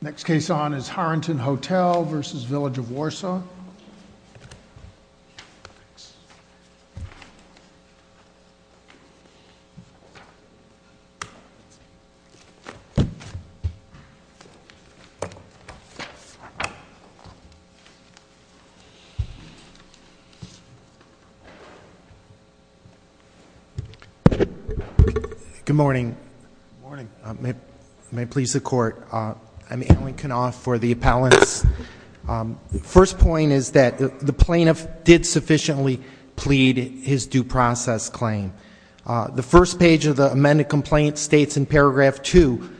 Next case on is Harenton Hotel v. Village of Warsaw. Good morning. Good morning. May it please the court. I'm Alan Knopf for the appellants. The first point is that the plaintiff did sufficiently plead his due process claim. The first page of the amended complaint states in paragraph 2,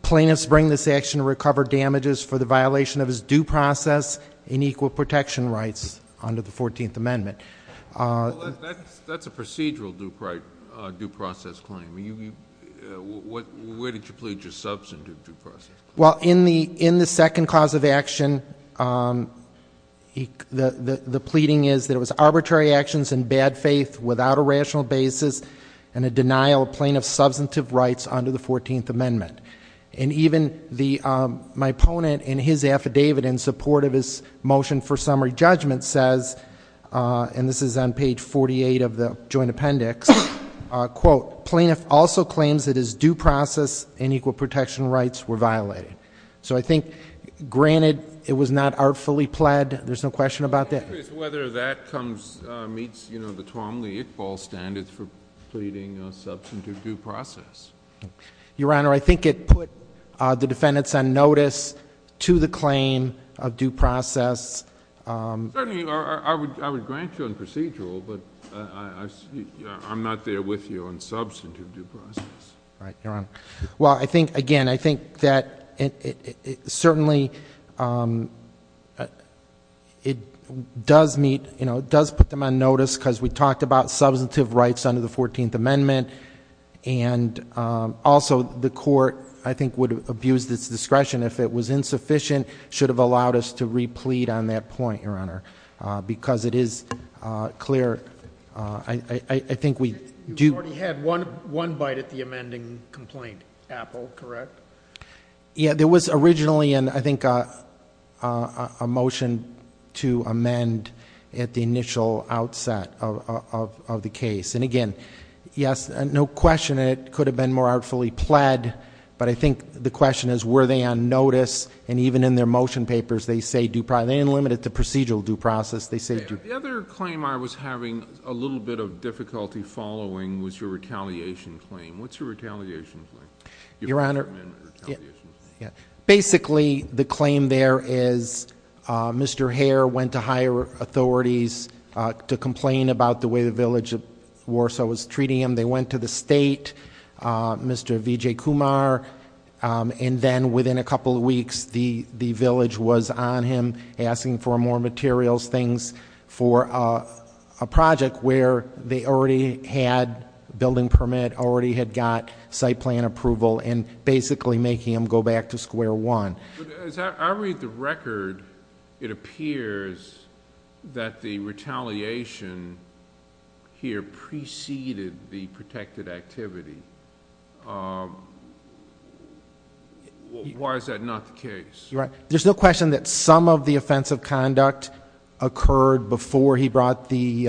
plaintiffs bring this action to recover damages for the violation of his due process and equal protection rights under the 14th Amendment. That's a procedural due process claim. Where did you plead your substantive due process claim? Well, in the second clause of action, the pleading is that it was arbitrary actions in bad faith without a rational basis and a denial of plaintiff's substantive rights under the 14th Amendment. And even my opponent in his affidavit in support of his motion for summary judgment says, and this is on page 48 of the joint appendix, quote, plaintiff also claims that his due process and equal protection rights were violated. So I think, granted, it was not artfully pled, there's no question about that. I'm curious whether that comes, meets, you know, the Twombly-Iqbal standards for pleading a substantive due process. Your Honor, I think it put the defendants on notice to the claim of due process. Certainly, I would grant you on procedural, but I'm not there with you on substantive due process. Right, Your Honor. Well, I think, again, I think that certainly it does meet, you know, it does put them on notice because we talked about substantive rights under the 14th Amendment and also the court, I think, would abuse its discretion if it was insufficient, should have allowed us to replete on that point, Your Honor, because it is clear. I think we do. You already had one bite at the amending complaint, Apple, correct? Yeah, there was originally, I think, a motion to amend at the initial outset of the case. And, again, yes, no question, it could have been more artfully pled, but I think the question is were they on notice? And even in their motion papers, they say due process. They didn't limit it to procedural due process. They say due process. The other claim I was having a little bit of difficulty following was your retaliation claim. What's your retaliation claim? Your Honor, basically, the claim there is Mr. Hare went to higher authorities to complain about the way the village of Warsaw was treating him. They went to the state, Mr. Vijay Kumar, and then within a couple of weeks the village was on him asking for more materials, things for a project where they already had building permit, already had got site plan approval and basically making him go back to square one. But as I read the record, it appears that the retaliation here preceded the protected activity. Why is that not the case? There's no question that some of the offensive conduct occurred before he brought the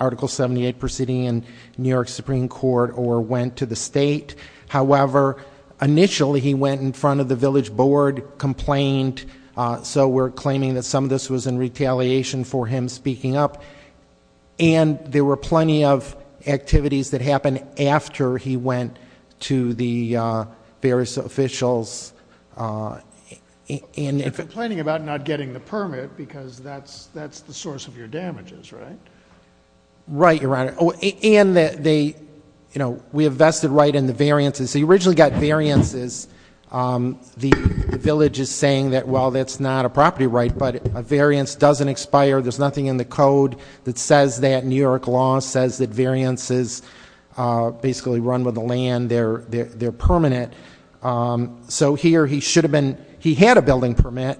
Article 78 proceeding in New York Supreme Court or went to the state. However, initially he went in front of the village board, complained. So we're claiming that some of this was in retaliation for him speaking up. And there were plenty of activities that happened after he went to the various officials. You're complaining about not getting the permit because that's the source of your damages, right? Right, Your Honor. And we have vested right in the variances. He originally got variances. The village is saying that, well, that's not a property right, but a variance doesn't expire. There's nothing in the code that says that. New York law says that variances basically run with the land. They're permanent. So here he should have been. He had a building permit.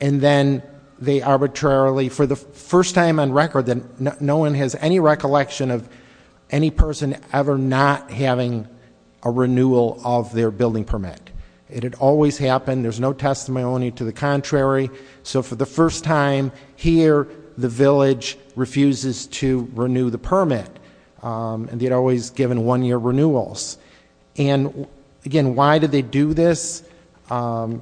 And then they arbitrarily, for the first time on record, no one has any recollection of any person ever not having a renewal of their building permit. It had always happened. There's no testimony to the contrary. So for the first time here, the village refuses to renew the permit. And they had always given one-year renewals. And again, why did they do this? I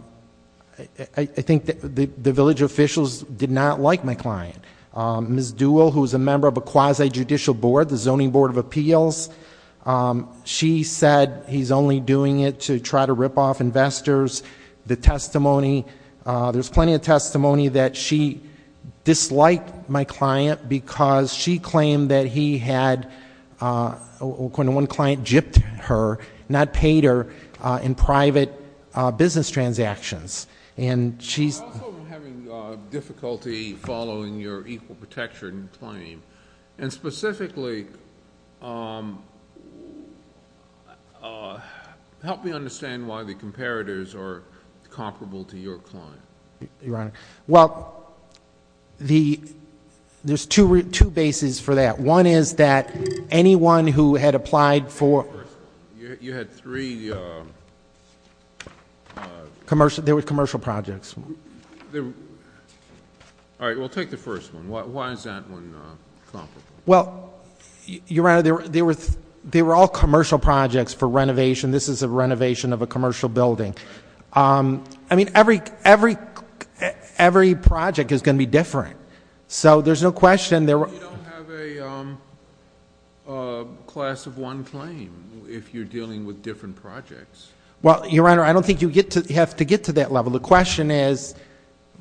think the village officials did not like my client. Ms. Duell, who's a member of a quasi-judicial board, the Zoning Board of Appeals, she said he's only doing it to try to rip off investors. The testimony, there's plenty of testimony that she disliked my client because she claimed that he had, according to one client, gypped her, not paid her in private business transactions. I also am having difficulty following your equal protection claim. And specifically, help me understand why the comparators are comparable to your client. Well, there's two bases for that. One is that anyone who had applied for- You had three- There were commercial projects. All right, we'll take the first one. Why is that one comparable? Well, Your Honor, they were all commercial projects for renovation. This is a renovation of a commercial building. I mean, every project is going to be different. So there's no question there were- You don't have a class of one claim if you're dealing with different projects. Well, Your Honor, I don't think you have to get to that level. The question is,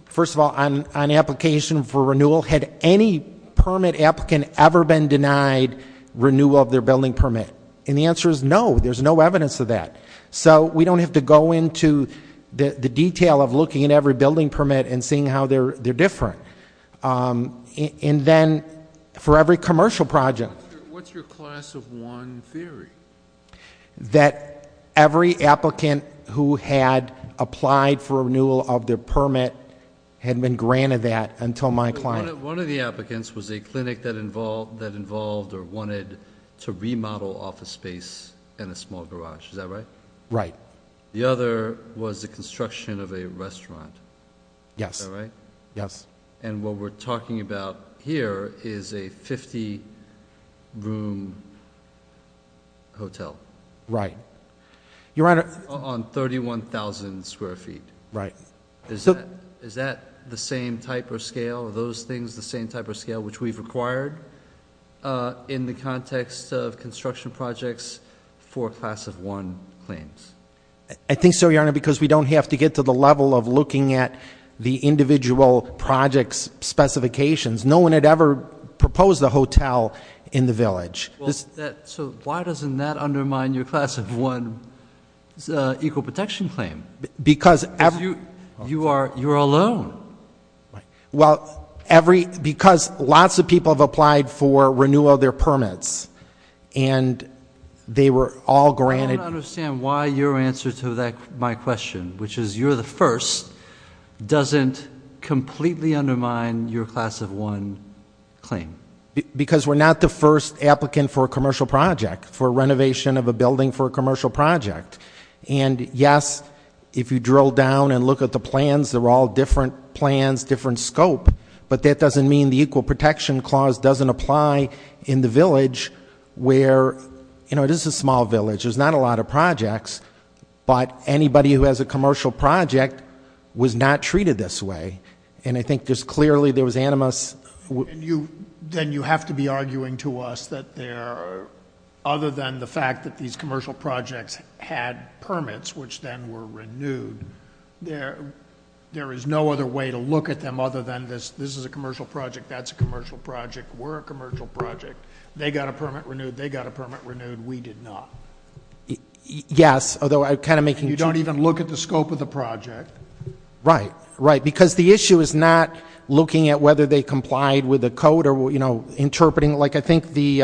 first of all, on application for renewal, had any permit applicant ever been denied renewal of their building permit? And the answer is no, there's no evidence of that. So we don't have to go into the detail of looking at every building permit and seeing how they're different. And then for every commercial project- What's your class of one theory? That every applicant who had applied for renewal of their permit had been granted that until my client- One of the applicants was a clinic that involved or wanted to remodel office space in a small garage. Is that right? Right. The other was the construction of a restaurant. Yes. Is that right? Yes. And what we're talking about here is a 50-room hotel. Right. On 31,000 square feet. Right. Is that the same type or scale? Are those things the same type or scale which we've required? In the context of construction projects for class of one claims? I think so, Your Honor, because we don't have to get to the level of looking at the individual project's specifications. No one had ever proposed a hotel in the village. So why doesn't that undermine your class of one equal protection claim? Because every- Because you are alone. Well, because lots of people have applied for renewal of their permits and they were all granted- I don't understand why your answer to my question, which is you're the first, doesn't completely undermine your class of one claim. Because we're not the first applicant for a commercial project, for renovation of a building for a commercial project. And, yes, if you drill down and look at the plans, they're all different plans, different scope. But that doesn't mean the equal protection clause doesn't apply in the village where, you know, this is a small village, there's not a lot of projects, but anybody who has a commercial project was not treated this way. And I think there's clearly there was animus- Then you have to be arguing to us that there, other than the fact that these commercial projects had permits, which then were renewed, there is no other way to look at them other than this is a commercial project, that's a commercial project, we're a commercial project, they got a permit renewed, they got a permit renewed, we did not. Yes, although I'm kind of making- You don't even look at the scope of the project. Right, right. Because the issue is not looking at whether they complied with the code or, you know, interpreting like I think the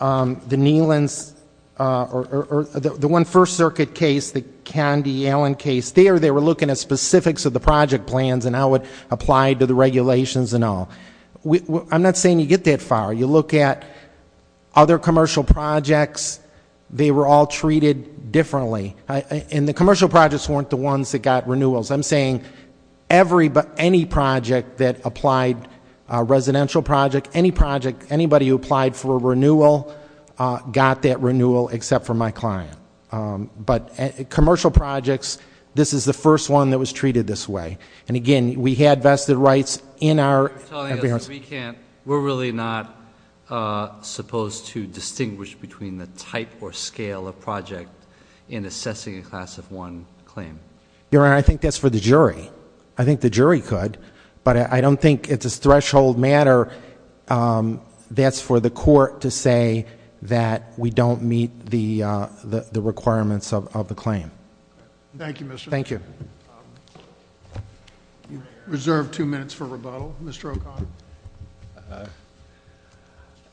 Neelan's or the one First Circuit case, the Candy Allen case, there they were looking at specifics of the project plans and how it applied to the regulations and all. I'm not saying you get that far. You look at other commercial projects, they were all treated differently. And the commercial projects weren't the ones that got renewals. I'm saying any project that applied, a residential project, any project, anybody who applied for a renewal got that renewal except for my client. But commercial projects, this is the first one that was treated this way. And, again, we had vested rights in our- You're telling us we can't, we're really not supposed to distinguish between the type or scale of project in assessing a class of one claim. Your Honor, I think that's for the jury. I think the jury could. But I don't think it's a threshold matter. That's for the court to say that we don't meet the requirements of the claim. Thank you, Mr. O'Connor. Thank you. Reserve two minutes for rebuttal. Mr. O'Connor.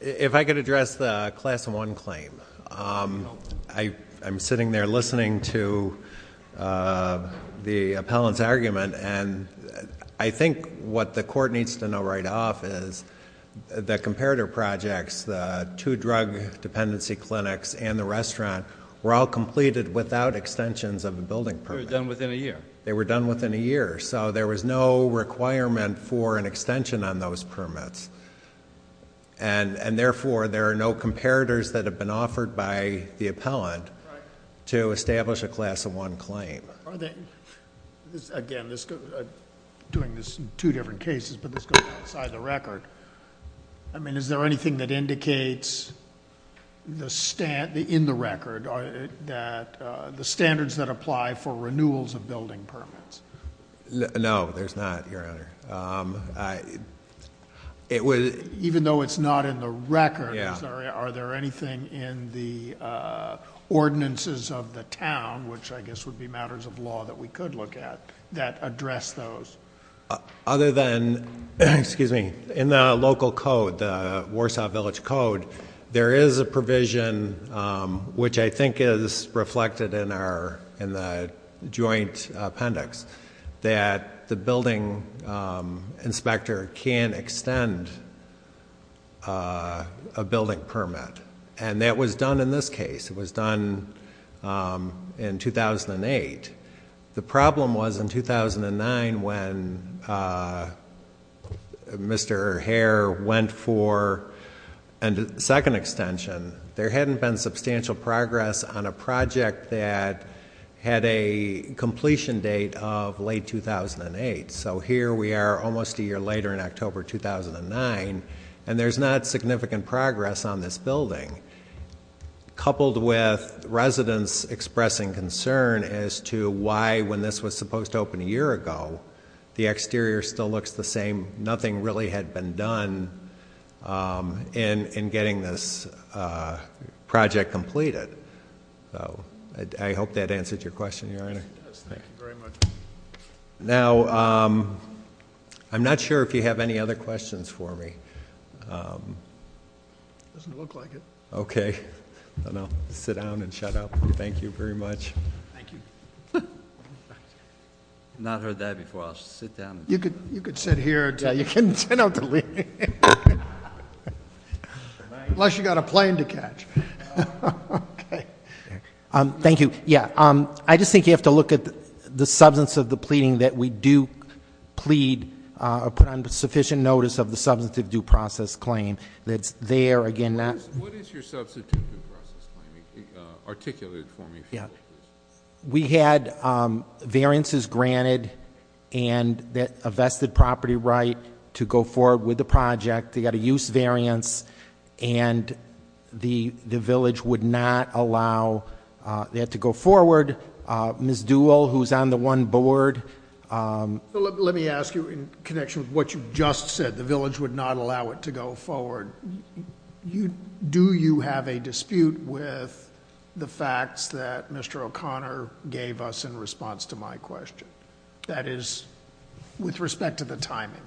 If I could address the class of one claim. I'm sitting there listening to the appellant's argument. And I think what the court needs to know right off is the comparator projects, the two drug dependency clinics and the restaurant were all completed without extensions of a building permit. They were done within a year. They were done within a year. So there was no requirement for an extension on those permits. And therefore, there are no comparators that have been offered by the appellant to establish a class of one claim. Again, doing this in two different cases, but this goes outside the record. I mean, is there anything that indicates in the record that the standards that apply for renewals of building permits? No, there's not, Your Honor. Even though it's not in the record, are there anything in the ordinances of the town, which I guess would be matters of law that we could look at, that address those? Other than, excuse me, in the local code, the Warsaw Village Code, there is a provision, which I think is reflected in the joint appendix, that the building inspector can extend a building permit. And that was done in this case. It was done in 2008. The problem was in 2009 when Mr. Herr went for a second extension, there hadn't been substantial progress on a project that had a completion date of late 2008. So here we are almost a year later in October 2009, and there's not significant progress on this building. Coupled with residents expressing concern as to why when this was supposed to open a year ago, the exterior still looks the same. Nothing really had been done in getting this project completed. So I hope that answers your question, Your Honor. It does. Thank you very much. Now, I'm not sure if you have any other questions for me. It doesn't look like it. Okay. Then I'll sit down and shut up. Thank you very much. Thank you. I've not heard that before. I'll sit down. You could sit here until you can't stand up to leave. Unless you've got a plane to catch. Okay. Thank you. Yeah, I just think you have to look at the substance of the pleading that we do plead or put on sufficient notice of the substantive due process claim that's there. Again, that- What is your substantive due process claim? Articulate it for me, please. Yeah. We had variances granted and a vested property right to go forward with the project. They got a use variance, and the village would not allow that to go forward. Ms. Duell, who's on the one board- Let me ask you in connection with what you just said. The village would not allow it to go forward. Do you have a dispute with the facts that Mr. O'Connor gave us in response to my question? That is, with respect to the timing.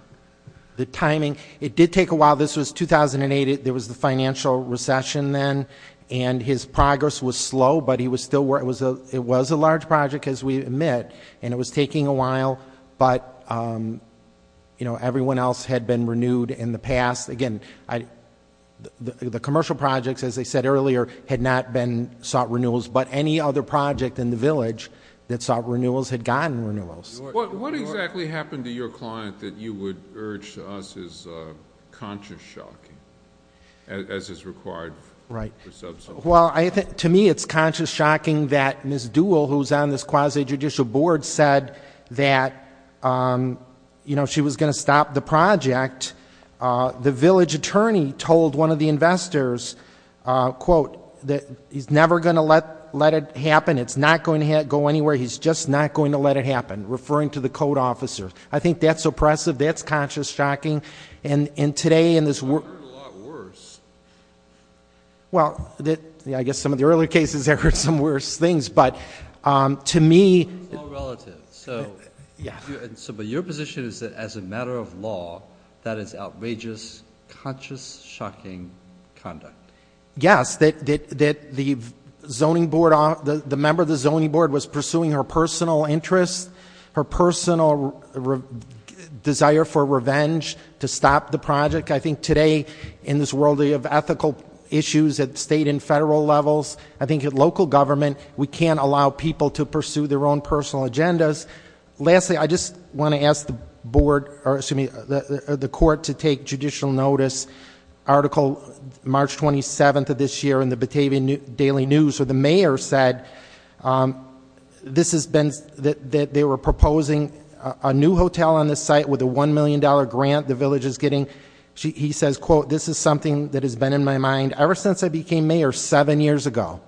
The timing. It did take a while. This was 2008. There was the financial recession then, and his progress was slow, but it was a large project, as we admit, and it was taking a while, but everyone else had been renewed in the past. Again, the commercial projects, as I said earlier, had not been sought renewals, but any other project in the village that sought renewals had gotten renewals. What exactly happened to your client that you would urge to us is conscious shocking, as is required for substantive due process? To me, it's conscious shocking that Ms. Duell, who's on this quasi-judicial board, said that she was going to stop the project. The village attorney told one of the investors, quote, that he's never going to let it happen. It's not going to go anywhere. He's just not going to let it happen, referring to the code officer. I think that's oppressive. That's conscious shocking, and today in this- I've heard a lot worse. Well, I guess some of the earlier cases I've heard some worse things, but to me- You're a law relative, but your position is that as a matter of law, that is outrageous, conscious shocking conduct. Yes, that the member of the zoning board was pursuing her personal interests, her personal desire for revenge to stop the project. I think today in this world of ethical issues at state and federal levels, I think at local government we can't allow people to pursue their own personal agendas. Lastly, I just want to ask the court to take judicial notice. Article March 27th of this year in the Batavia Daily News, where the mayor said that they were proposing a new hotel on this site with a $1 million grant the village is getting. He says, quote, this is something that has been in my mind ever since I became mayor seven years ago,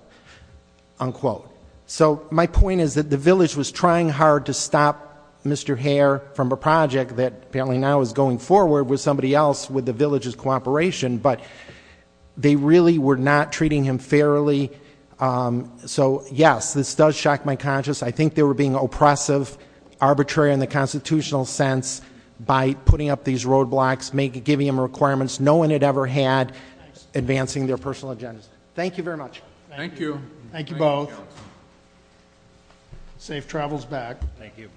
unquote. So my point is that the village was trying hard to stop Mr. Hare from a project that apparently now is going forward with somebody else with the village's cooperation. But they really were not treating him fairly. So yes, this does shock my conscience. I think they were being oppressive, arbitrary in the constitutional sense by putting up these roadblocks, giving them requirements no one had ever had advancing their personal agendas. Thank you very much. Thank you. Thank you both. Safe travels back. Thank you.